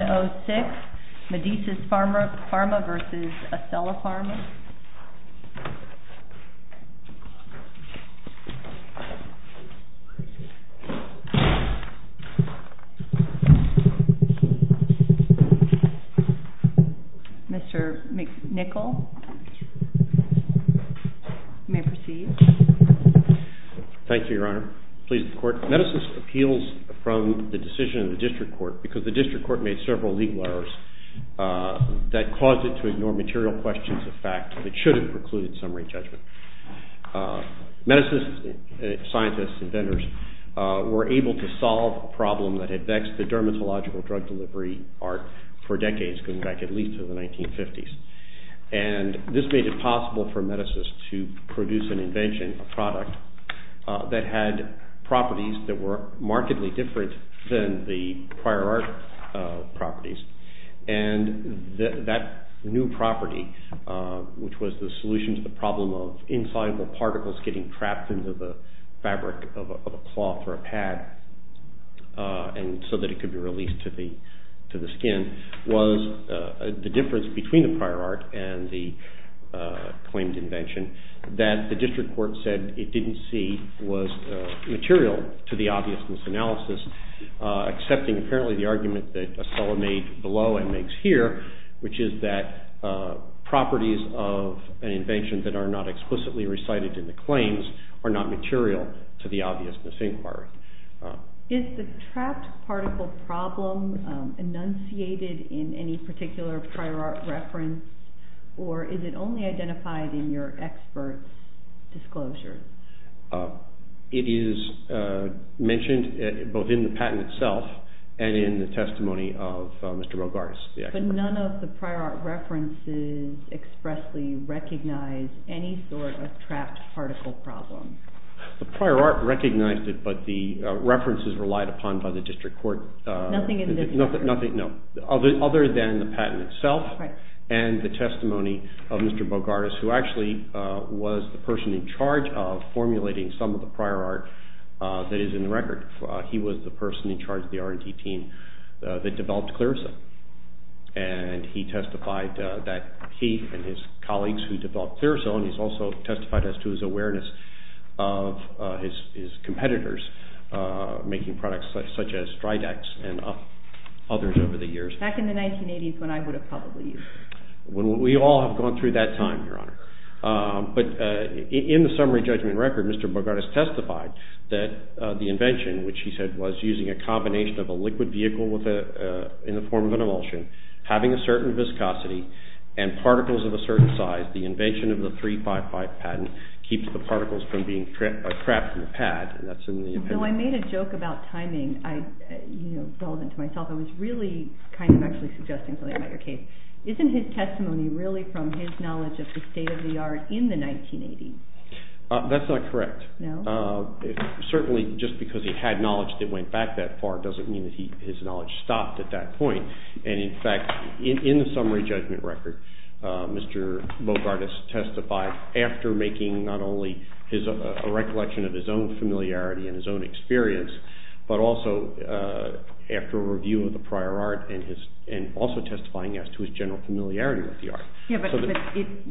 6, Medici's Pharma v. Ocella Pharma. Mr. McNichol, you may proceed. Thank you, Your Honor. Please, the court. Medicine appeals from the decision of the district court because the district court made several legal errors that caused it to ignore material questions of fact that should have precluded summary judgment. Medici's scientists and vendors were able to solve a problem that had vexed the dermatological drug delivery art for decades going back at least to the 1950s. And this made it possible for Medici's to produce an invention, a product that had properties that were markedly different than the prior art properties. And that new property, which was the solution to the problem of insoluble particles getting trapped into the fabric of a cloth or a pad so that it could be released to the skin, was the difference between the prior art and the claimed invention that the district court said it didn't see was material to the obviousness analysis, accepting, apparently, the argument that Ocella made below and makes here, which is that properties of an invention that are not explicitly recited in the claims are not material to the obviousness inquiry. Is the trapped particle problem enunciated in any particular prior art reference, or is it only identified in your experts' disclosures? It is mentioned both in the patent itself and in the testimony of Mr. Bogartis, the expert. But none of the prior art references expressly recognize any sort of trapped particle problem. The prior art recognized it, but the references relied upon by the district court. Nothing in this case. Nothing, no. Other than the patent itself. And the testimony of Mr. Bogartis, who actually was the person in charge of formulating some of the prior art that is in the record. He was the person in charge of the R&D team that developed Clearzone. And he testified that he and his colleagues who developed Clearzone, he's also testified as to his awareness of his competitors making products such as Stridex and others over the years. Back in the 1980s, when I would have probably used it. When we all have gone through that time, Your Honor. But in the summary judgment record, Mr. Bogartis testified that the invention, which he said was using a combination of a liquid vehicle in the form of an emulsion, having a certain viscosity, and particles of a certain size. The invention of the 355 patent keeps the particles from being trapped in the pad, and that's in the opinion. So I made a joke about timing, relevant to myself. I was really actually suggesting something about your case. Isn't his testimony really from his knowledge of the state of the art in the 1980s? That's not correct. No? Certainly, just because he had knowledge that went back that far doesn't mean that his knowledge stopped at that point. And in fact, in the summary judgment record, Mr. Bogartis testified after making not only a recollection of his own familiarity and his own experience, but also after a review of the prior art, and also testifying as to his general familiarity with the art.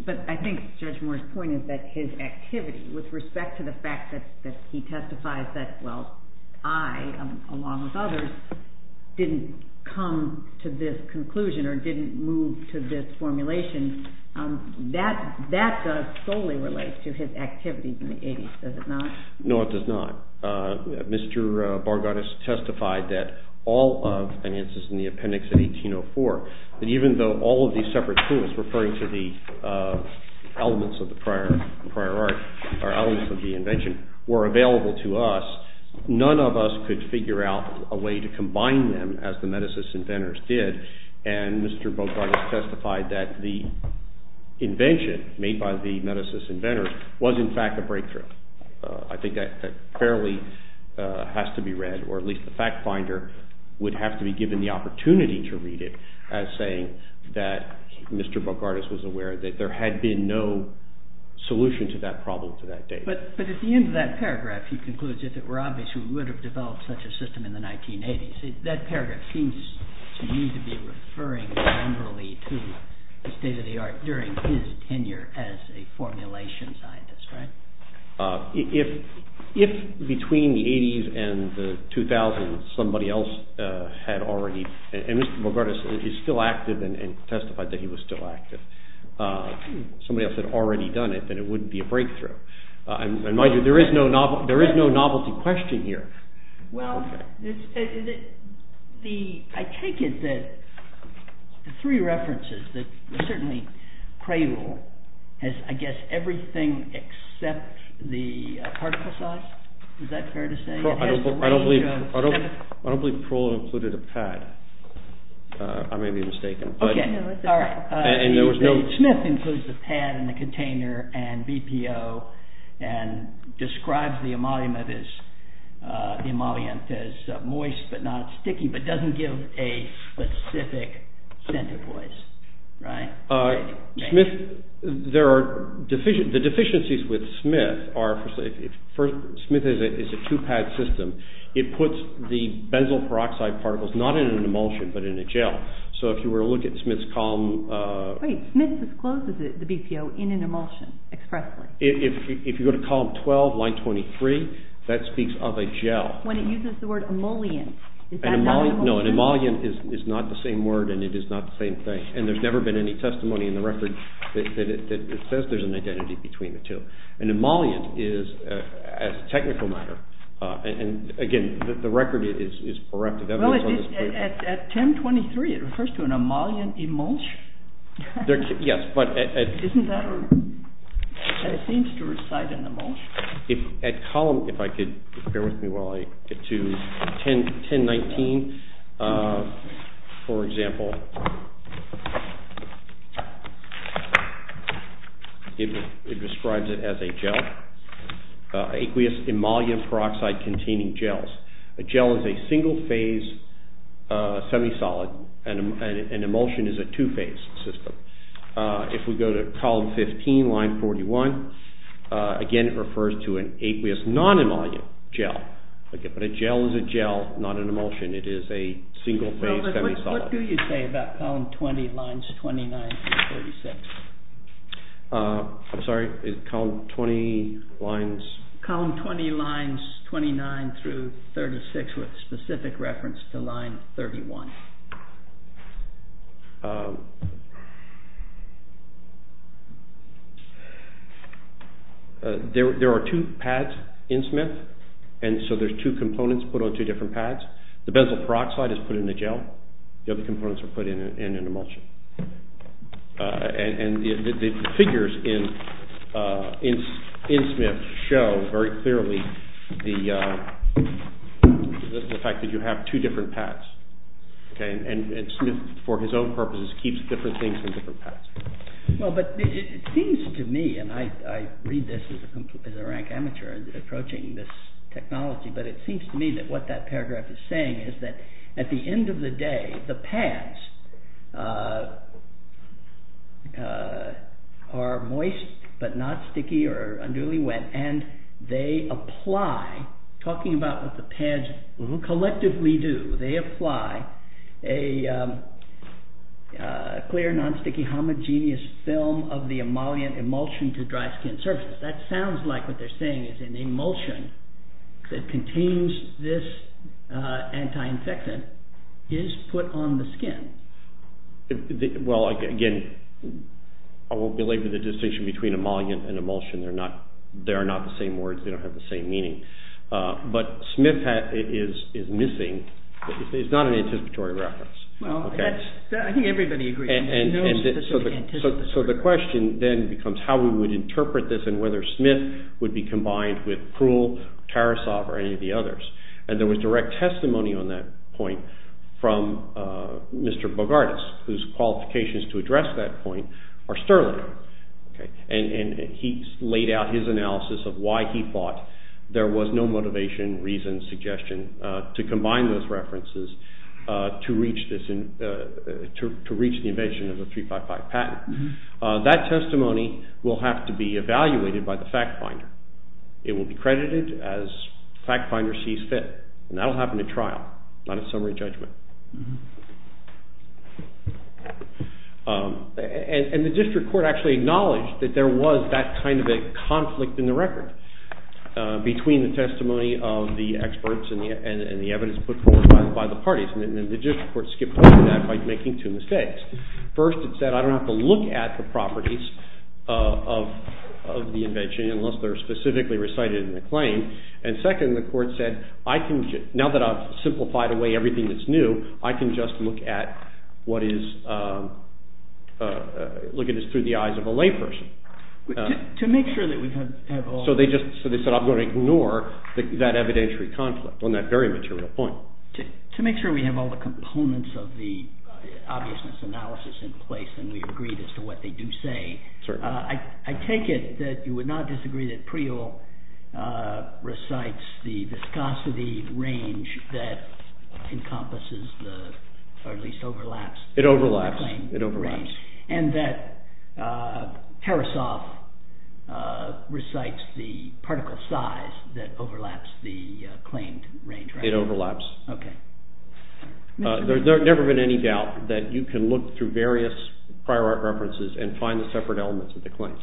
But I think Judge Moore's point is that his activity, with respect to the fact that he testifies that, well, I, along with others, didn't come to this conclusion, or didn't move to this formulation, that does solely relate to his activities in the 80s, does it not? No, it does not. Mr. Bogartis testified that all of, and this is in the appendix in 1804, that even though all of these separate clues, referring to the elements of the prior art, or elements of the invention, were available to us, none of us could figure out a way to combine them as the Metis inventors did. And Mr. Bogartis testified that the invention made by the Metis inventors was, in fact, a breakthrough. I think that fairly has to be read, or at least the fact finder would have to be given the opportunity to read it as saying that Mr. Bogartis was aware that there had been no solution to that problem to that date. But at the end of that paragraph, he concludes, if it were obvious, we would have developed such a system in the 1980s. That paragraph seems to me to be referring generally to the state of the art during his tenure as a formulation scientist, right? If between the 80s and the 2000s somebody else had already, and Mr. Bogartis is still active and testified that he was still active, somebody else had already done it, then it wouldn't be a breakthrough. In my view, there is no novelty question here. Well, I take it that the three references that certainly cradle has, I guess, everything except the particle size. Is that fair to say? I don't believe Parole included a pad. I may be mistaken. OK. All right. Smith includes the pad and the container and BPO and describes the emollient as moist but not sticky, but doesn't give a specific scent of moist, right? Smith, there are deficiencies. The deficiencies with Smith are, first, Smith is a two-pad system. It puts the benzyl peroxide particles not in an emulsion, but in a gel. So if you were to look at Smith's column. Wait, Smith discloses the BPO in an emulsion expressly? If you go to column 12, line 23, that speaks of a gel. When it uses the word emollient, is that not an emollient? No, an emollient is not the same word and it is not the same thing. And there's never been any testimony in the record that it says there's an identity between the two. An emollient is a technical matter. And again, the record is correct. Well, at 10.23, it refers to an emollient emulsion? Yes, but at 10.23, it refers to an emollient emulsion? It seems to reside in emulsion. At column, if I could, bear with me while I get to 10.19, for example, it describes it as a gel. Aqueous emollient peroxide containing gels. A gel is a single-phase semisolid and an emulsion is a two-phase system. If we go to column 15, line 41, again, it refers to an aqueous non-emollient gel. But a gel is a gel, not an emulsion. It is a single-phase semisolid. What do you say about column 20, lines 29 through 36? I'm sorry, is column 20 lines? Column 20 lines 29 through 36 with specific reference to line 31. There are two pads in Smith, and so there's two components put on two different pads. The benzyl peroxide is put in the gel. The other components are put in an emulsion. And the figures in Smith show very clearly the fact that you have two different pads. And Smith, for his own purposes, keeps different things in different pads. Well, but it seems to me, and I read this as a rank amateur approaching this technology, but it seems to me that what that paragraph is saying is that at the end of the day, the pads are moist, but not sticky or unduly wet. And they apply, talking about what pads collectively do, they apply a clear, non-sticky, homogeneous film of the emollient emulsion to dry skin surface. That sounds like what they're saying is an emulsion that contains this anti-infectant is put on the skin. Well, again, I won't belabor the distinction between emollient and emulsion. They are not the same words. They don't have the same meaning. But Smith is missing. It's not an anticipatory reference. Well, I think everybody agrees. So the question then becomes how we would interpret this and whether Smith would be combined with Krull, Tarasov, or any of the others. And there was direct testimony on that point from Mr. Bogardas, whose qualifications to address that point are sterling. And he laid out his analysis of why he thought there was no motivation, reason, suggestion to combine those references to reach the evasion of the 355 patent. That testimony will have to be evaluated by the fact finder. It will be credited as fact finder sees fit. And that will happen at trial, not a summary judgment. And the district court actually acknowledged that there was that kind of a conflict in the record between the testimony of the experts and the evidence put forward by the parties. And the district court skipped over that by making two mistakes. First, it said I don't have to look at the properties of the invention unless they're specifically recited in the claim. And second, the court said, now that I've simplified away everything that's new, I can just look at this through the eyes of a layperson. To make sure that we have all. So they said, I'm going to ignore that evidentiary conflict on that very material point. To make sure we have all the components of the obviousness analysis in place and we agree as to what they do say, I take it that you would not disagree that Priel recites the viscosity range that encompasses, or at least overlaps, the claimed range. It overlaps. It overlaps. And that Harasoff recites the particle size that overlaps the claimed range, right? It overlaps. OK. There's never been any doubt that you can look through various prior art references and find the separate elements of the claim.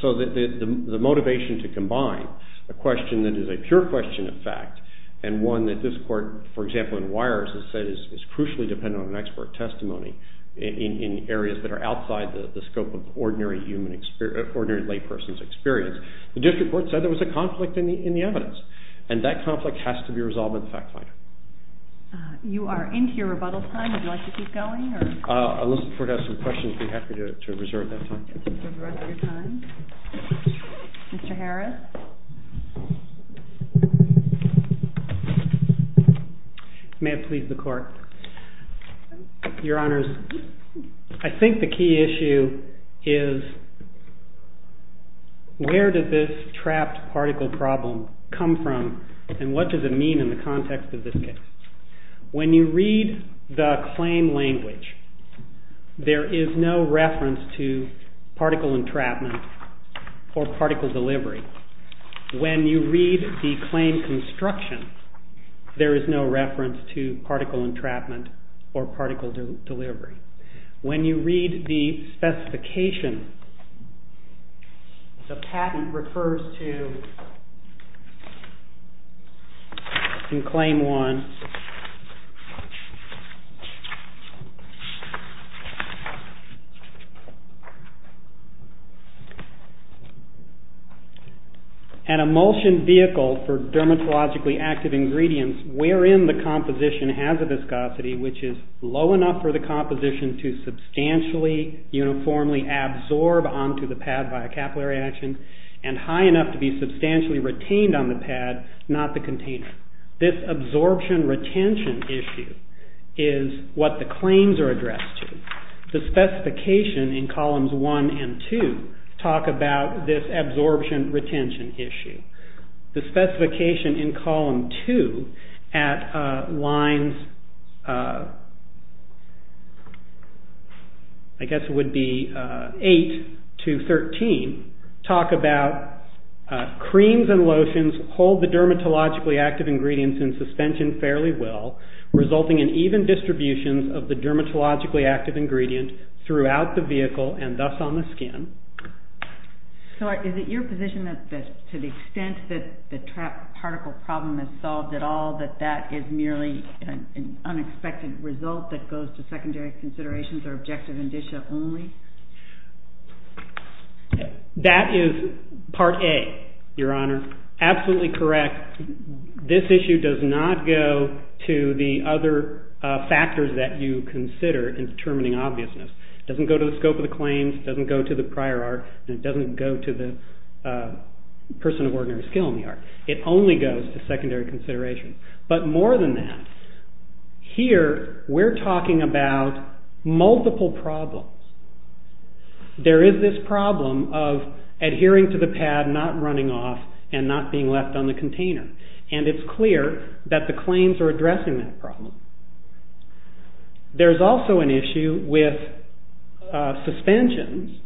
So the motivation to combine a question that is a pure question of fact and one that this court, for example, in WIRES has said is crucially dependent on an expert testimony in areas that are outside the scope of ordinary layperson's experience, the district court said there was a conflict in the evidence. And that conflict has to be resolved in the fact finder. You are into your rebuttal time. Would you like to keep going, or? Unless the court has some questions, I'd be happy to reserve that time. To reserve the rest of your time. Mr. Harris? May it please the court. Your Honors, I think the key issue is, where did this trapped particle problem come from? And what does it mean in the context of this case? When you read the claim language, there is no reference to particle entrapment or particle delivery. When you read the claim construction, there is no reference to particle entrapment or particle delivery. When you read the specification, the patent refers to, in claim one, an emulsion vehicle for dermatologically active ingredients, wherein the composition has a viscosity which is low enough for the composition to substantially uniformly absorb onto the pad by a capillary action, and high enough to be substantially retained on the pad, not the container. This absorption retention issue is what the claims are addressed to. The specification in columns one and two talk about this absorption retention issue. The specification in column two at lines, I guess it would be eight to 13, talk about creams and lotions hold the dermatologically active ingredients in suspension fairly well, resulting in even distributions of the dermatologically active ingredient throughout the vehicle, and thus on the skin. So is it your position that to the extent that the trapped particle problem is solved at all, that that is merely an unexpected result that goes to secondary considerations or objective indicia only? That is part A, Your Honor. Absolutely correct. This issue does not go to the other factors that you consider in determining obviousness. It doesn't go to the scope of the claims. It doesn't go to the prior art. And it doesn't go to the person of ordinary skill in the art. It only goes to secondary consideration. But more than that, here we're talking about multiple problems. There is this problem of adhering to the pad, not running off, and not being left on the container. And it's clear that the claims are addressing that problem. There's also an issue with suspensions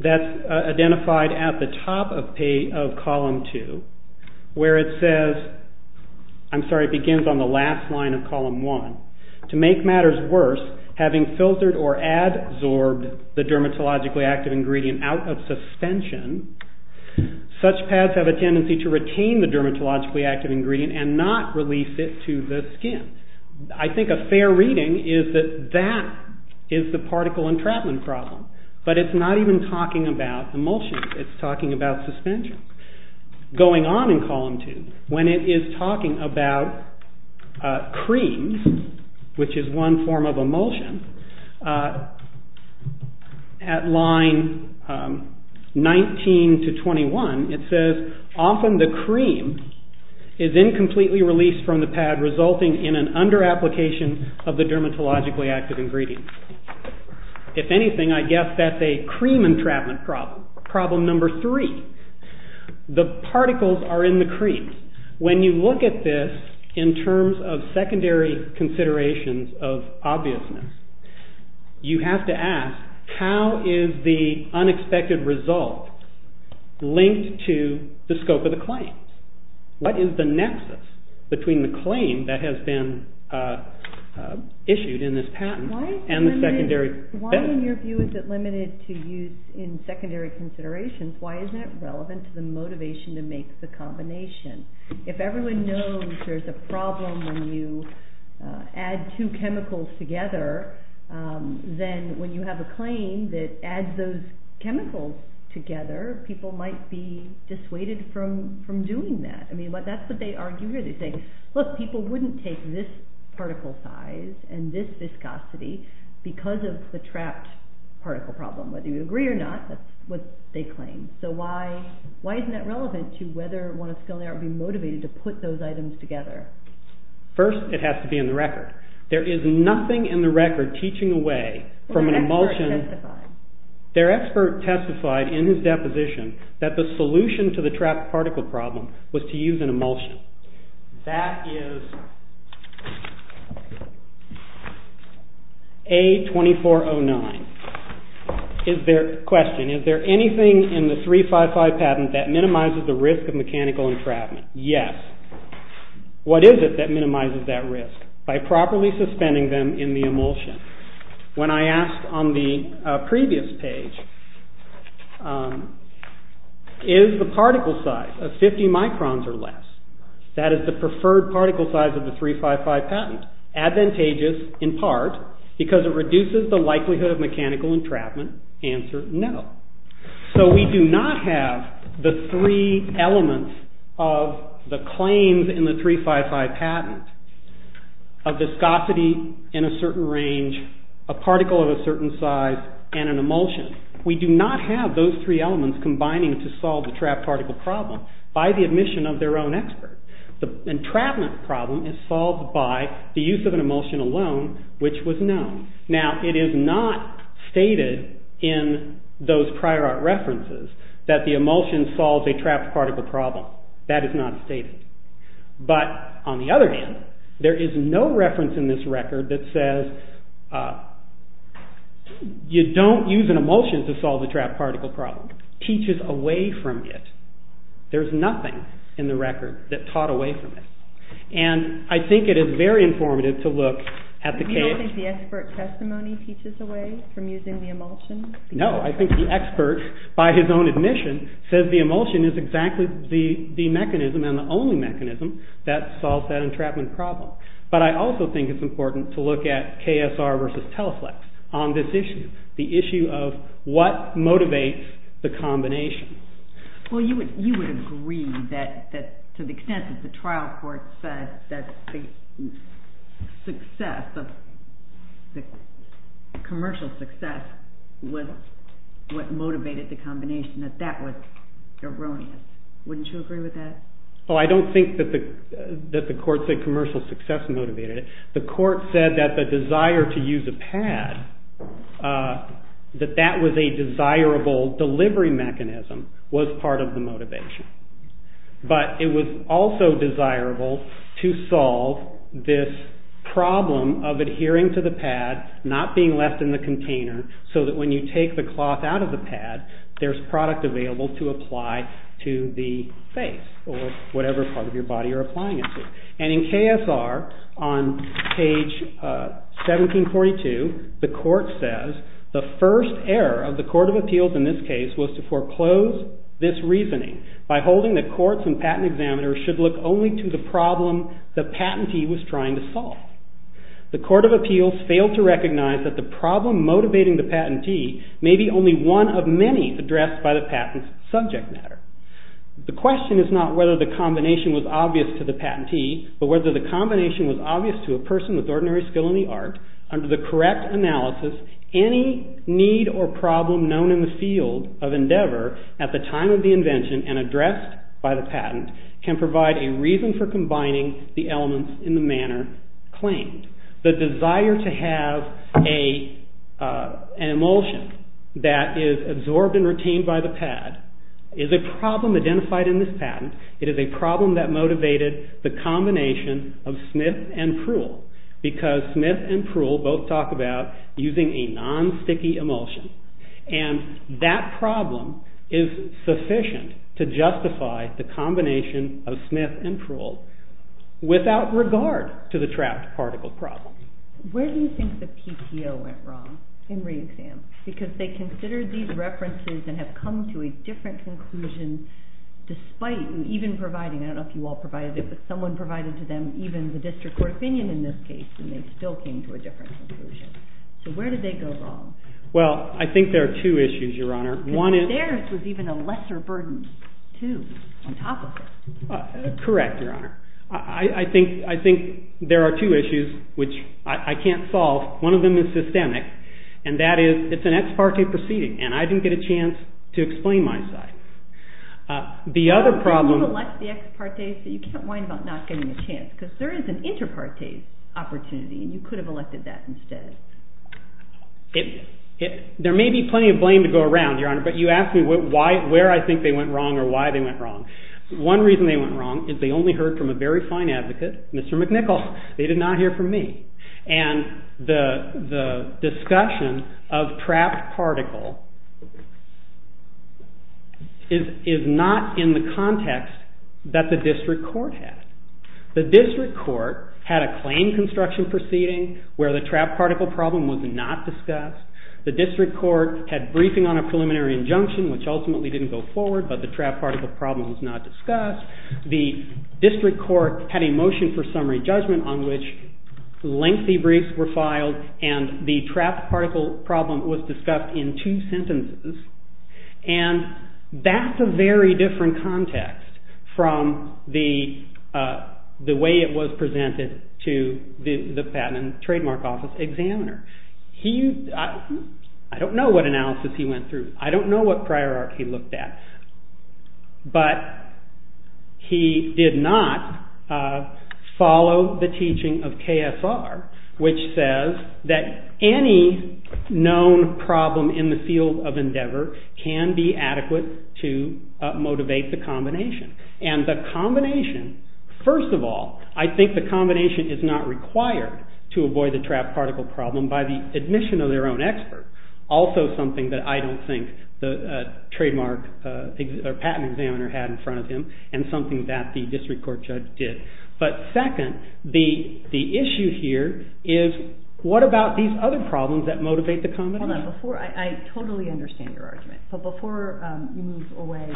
that's identified at the top of column two, where it says, I'm sorry, it begins on the last line of column one. To make matters worse, having filtered or adsorbed the dermatologically active ingredient out of suspension, such pads have a tendency to retain the dermatologically active ingredient and not release it to the skin. I think a fair reading is that that is the particle entrapment problem. But it's not even talking about emulsion. It's talking about suspension. Going on in column two, when it is talking about creams, which is one form of emulsion, at line 19 to 21, it says, often the cream is incompletely released from the pad, resulting in an under-application of the dermatologically active ingredient. If anything, I guess that's a cream entrapment problem. Problem number three, the particles are in the cream. When you look at this in terms of secondary considerations of obviousness, you have to ask, how is the unexpected result linked to the scope of the claim? What is the nexus between the claim that has been issued in this patent? Why, in your view, is it limited to use in secondary considerations? Why is that relevant to the motivation to make the combination? If everyone knows there's a problem when you add two chemicals together, then when you have a claim that adds those chemicals together, people might be dissuaded from doing that. I mean, that's what they argue here. They say, look, people wouldn't take this particle size and this viscosity because of the trapped particle problem. Whether you agree or not, that's what they claim. So why isn't that relevant to whether one of Scaliart would be motivated to put those items together? First, it has to be in the record. There is nothing in the record teaching away from an emulsion. Their expert testified in his deposition that the solution to the trapped particle problem was to use an emulsion. That is A2409. Question, is there anything in the 355 patent that minimizes the risk of mechanical entrapment? Yes. What is it that minimizes that risk? By properly suspending them in the emulsion. When I asked on the previous page, is the particle size of 50 microns or less, that is the preferred particle size of the 355 patent, advantageous in part because it reduces the likelihood of mechanical entrapment? Answer, no. So we do not have the three elements of the claims in the 355 patent of viscosity in a certain range, a particle of a certain size, and an emulsion. We do not have those three elements combining to solve the trapped particle problem by the admission of their own expert. The entrapment problem is solved by the use of an emulsion alone, which was known. Now, it is not stated in those prior art references that the emulsion solves a trapped particle problem. That is not stated. But on the other hand, there is no reference in this record that says you do not use an emulsion to solve a trapped particle problem. It teaches away from it. There is nothing in the record that taught away from it. And I think it is very informative to look at the case. You do not think the expert testimony teaches away from using the emulsion? No, I think the expert, by his own admission, says the emulsion is exactly the mechanism and the only mechanism that solves that entrapment problem. But I also think it is important to look at KSR versus Teleflex on this issue, the issue of what motivates the combination. Well, you would agree that to the extent that the trial court said that the commercial success was what motivated the combination, that that was erroneous. Wouldn't you agree with that? Well, I do not think that the court said commercial success motivated it. The court said that the desire to use a pad, that that was a desirable delivery mechanism, was part of the motivation. But it was also desirable to solve this problem of adhering to the pad, not being left in the container, so that when you take the cloth out of the pad, there is product available to apply to the face or whatever part of your body you're applying it to. And in KSR, on page 1742, the court says, the first error of the Court of Appeals in this case was to foreclose this reasoning by holding that courts and patent examiners should look only to the problem the patentee was trying to solve. The Court of Appeals failed to recognize that the problem motivating the patentee may be only one of many addressed by the patent's subject matter. The question is not whether the combination was obvious to the patentee, but whether the combination was obvious to a person with ordinary skill in the art. Under the correct analysis, any need or problem known in the field of endeavor at the time of the invention and addressed by the patent can provide a reason for combining the elements in the manner claimed. The desire to have an emulsion that is absorbed and retained by the pad is a problem identified in this patent. It is a problem that motivated the combination of Smith and Pruhl, because Smith and Pruhl both talk about using a non-sticky emulsion. the combination of Smith and Pruhl without regard to the trapped particle problem. Where do you think the PTO went wrong in re-exam? Because they considered these references and have come to a different conclusion, despite even providing, I don't know if you all provided it, but someone provided to them even the district court opinion in this case, and they still came to a different conclusion. So where did they go wrong? Well, I think there are two issues, Your Honor. One is. Because theirs was even a lesser burden, too, on top of it. Correct, Your Honor. I think there are two issues, which I can't solve. One of them is systemic, and that is it's an ex parte proceeding, and I didn't get a chance to explain my side. The other problem. You've elected the ex parte, so you can't whine about not getting a chance, because there is an inter-parte opportunity, and you could have elected that instead. There may be plenty of blame to go around, Your Honor, but you asked me where I think they went wrong or why they went wrong. One reason they went wrong is they only heard from a very fine advocate, Mr. McNichol. They did not hear from me. And the discussion of trapped particle is not in the context that the district court had. The district court had a claim construction proceeding where the trapped particle problem was not discussed. The district court had briefing on a preliminary injunction, which ultimately didn't go forward, but the trapped particle problem was not discussed. The district court had a motion for summary judgment on which lengthy briefs were filed, and the trapped particle problem was discussed in two sentences. And that's a very different context from the way it was presented to the Patent and Trademark Office examiner. I don't know what analysis he went through. I don't know what priority he looked at. But he did not follow the teaching of KSR, which says that any known problem in the field of endeavor can be adequate to motivate the combination. And the combination, first of all, I think the combination is not required to avoid the trapped particle problem by the admission of their own expert. Also something that I don't think the trademark or patent examiner had in front of him, and something that the district court judge did. But second, the issue here is, what about these other problems that motivate the combination? I totally understand your argument. But before you move away,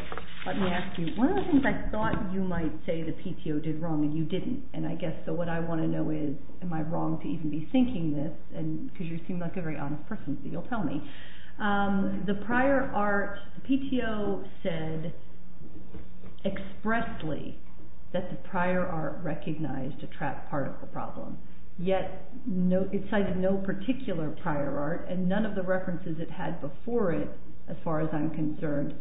let me ask you, one of the things I thought you might say the PTO did wrong and you didn't. And I guess what I want to know is, am I wrong to even be thinking this? Because you seem like a very honest person, so you'll tell me. The prior art, the PTO said expressly that the prior art recognized a trapped particle problem. Yet it cited no particular prior art. And none of the references it had before it, as far as I'm concerned,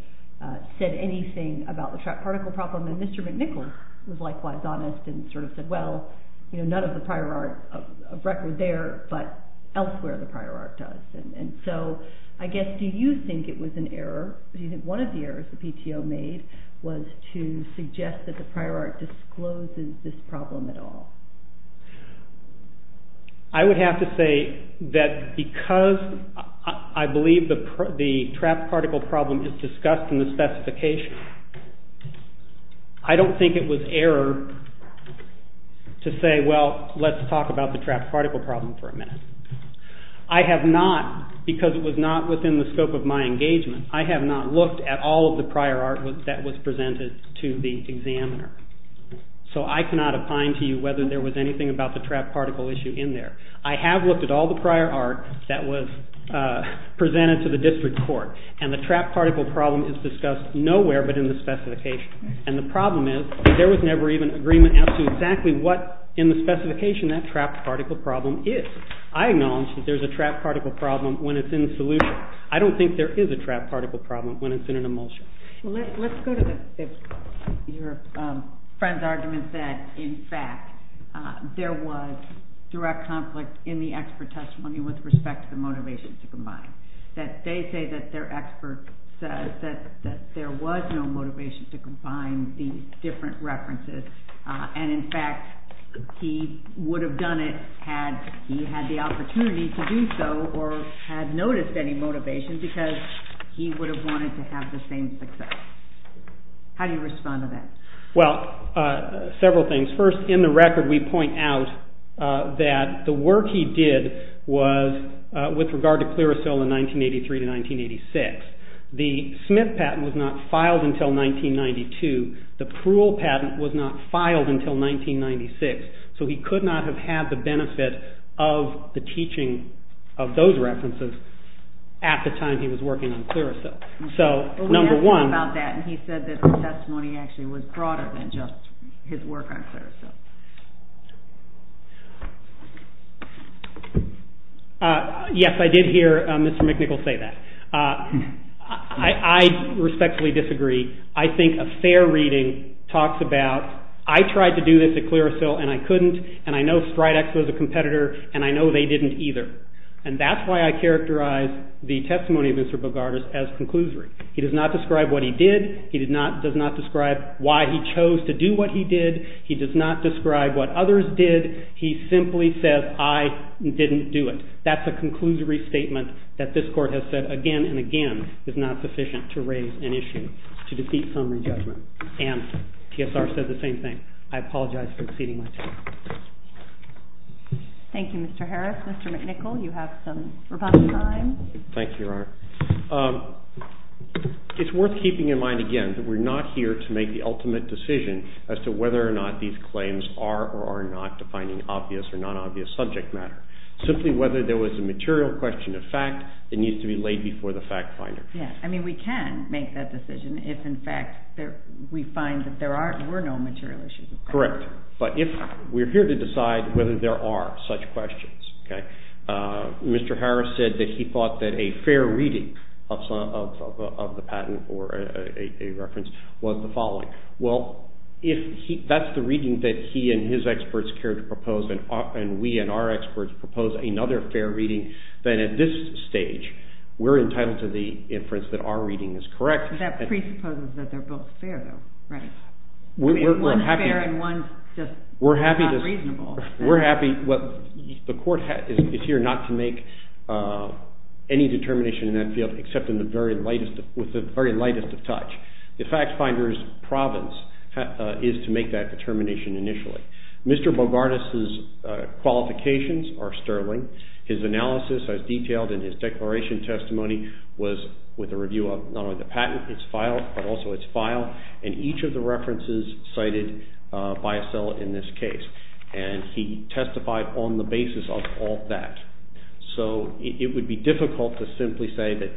said anything about the trapped particle problem. And Mr. McNichol was likewise honest and sort of said, well, none of the prior art of record there. But elsewhere, the prior art does. And so I guess, do you think it was an error? Do you think one of the errors the PTO made was to suggest that the prior art discloses this problem at all? I would have to say that because I believe the trapped particle problem is discussed in the specification, I don't think it was error to say, well, let's talk about the trapped particle problem for a minute. I have not, because it was not within the scope of my engagement, I have not looked at all of the prior art that was presented to the examiner. So I cannot opine to you whether there was anything about the trapped particle issue in there. I have looked at all the prior art that was presented to the district court. And the trapped particle problem is discussed nowhere but in the specification. And the problem is, there was never even agreement as to exactly what, in the specification, that trapped particle problem is. I acknowledge that there's a trapped particle problem when it's in the solution. I don't think there is a trapped particle problem when it's in an emulsion. Let's go to your friend's argument that, in fact, there was direct conflict in the expert testimony with respect to the motivation to combine. That they say that their expert says that there was no motivation to combine the different references. And, in fact, he would have done it had he had the opportunity to do so or had noticed any motivation, because he would have wanted to have the same success. How do you respond to that? Well, several things. First, in the record, we point out that the work he did was with regard to Clearasil in 1983 to 1986. The Smith patent was not filed until 1992. The Pruill patent was not filed until 1996. So he could not have had the benefit of the teaching of those references at the time he was working on Clearasil. So, number one. Well, we asked him about that. And he said that the testimony actually was broader than just his work on Clearasil. Yes, I did hear Mr. McNichol say that. I respectfully disagree. I think a fair reading talks about, I tried to do this at Clearasil, and I couldn't. And I know Stridex was a competitor. And I know they didn't either. And that's why I characterize the testimony of Mr. Bogardus as conclusory. He does not describe what he did. He does not describe what he did not to do what he did not to do. He does not describe what others did. He simply says, I didn't do it. That's a conclusory statement that this court has said again and again is not sufficient to raise an issue to defeat summary judgment. And TSR said the same thing. I apologize for exceeding my time. Thank you, Mr. Harris. Mr. McNichol, you have some rebuttal time. Thank you, Your Honor. It's worth keeping in mind, again, that we're not here to make the ultimate decision as to whether or not these claims are or are not defining obvious or non-obvious subject matter. Simply whether there was a material question of fact, it needs to be laid before the fact finder. I mean, we can make that decision if, in fact, we find that there were no material issues. Correct. But we're here to decide whether there are such questions. Mr. Harris said that he thought that a fair reading of the patent or a reference was the following. Well, if that's the reading that he and his experts care to propose, and we and our experts propose another fair reading, then at this stage, we're entitled to the inference that our reading is correct. That presupposes that they're both fair, though, right? I mean, one's fair and one's just not reasonable. We're happy. The court is here not to make any determination in that field, except with the very lightest of touch. The fact finder's province is to make that determination initially. Mr. Bogartas's qualifications are sterling. His analysis, as detailed in his declaration testimony, was with a review of not only the patent, its file, but also its file, and each of the references cited by a cell in this case. And he testified on the basis of all that. So it would be difficult to simply say that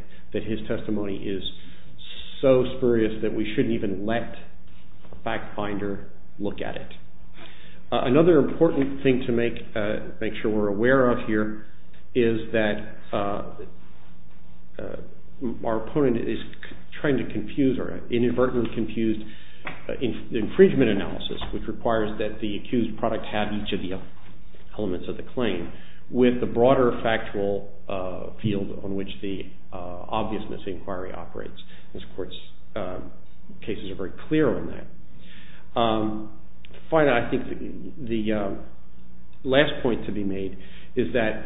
his testimony is so spurious that we shouldn't even let a fact finder look at it. Another important thing to make sure we're aware of here is that our opponent is trying to confuse or inadvertently confuse the infringement analysis, which requires that the accused product have each of the elements of the claim, with the broader factual field on which the obviousness inquiry operates. This court's cases are very clear on that. Finally, I think the last point to be made is that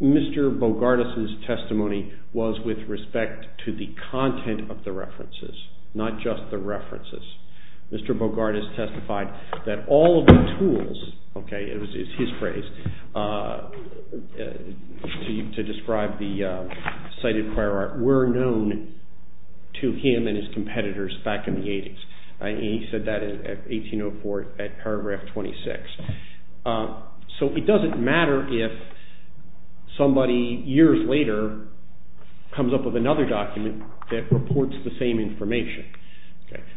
Mr. Bogartas's testimony was with respect to the content of the references, not just the references. Mr. Bogartas testified that all of the tools, OK, it was his phrase, to describe the cited choir art were known to him and his competitors back in the 80s. And he said that in 1804 at paragraph 26. So it doesn't matter if somebody years later comes up with another document that reports the same information.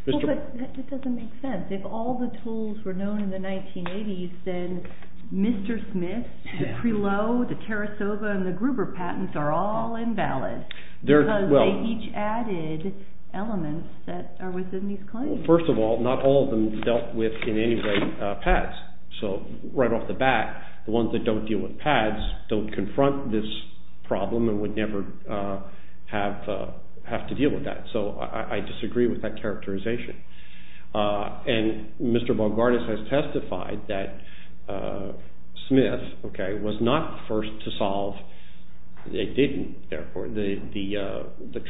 Well, but that doesn't make sense. If all the tools were known in the 1980s, then Mr. Smith, the Prelow, the Tarasova, and the Gruber patents are all invalid because they each added elements that are within these claims. First of all, not all of them dealt with, in any way, pads. So right off the bat, the ones that don't deal with pads don't confront this problem and would never have to deal with that. So I disagree with that characterization. And Mr. Bogartas has testified that Smith, OK, was not the first to solve, they didn't, therefore, the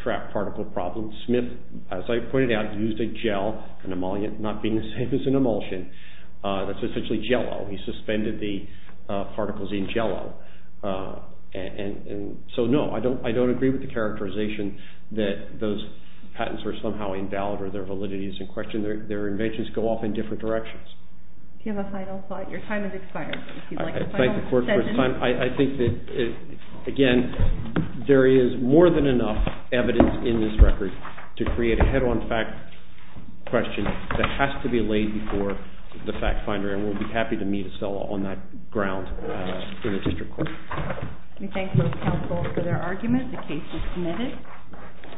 trapped particle problem. Smith, as I pointed out, used a gel, an emollient, not being the same as an emulsion. That's essentially Jell-O. He suspended the particles in Jell-O. And so no, I don't agree with the characterization that those patents are somehow invalid or their validity is in question. Their inventions go off in different directions. Do you have a final thought? Your time has expired. If you'd like a final sentence. I thank the court for its time. I think that, again, there is more than enough evidence in this record to create a head-on fact question that has to be laid before the fact finder. And we'll be happy to meet Acela on that ground in the district court. We thank both counsels for their argument. The case is submitted.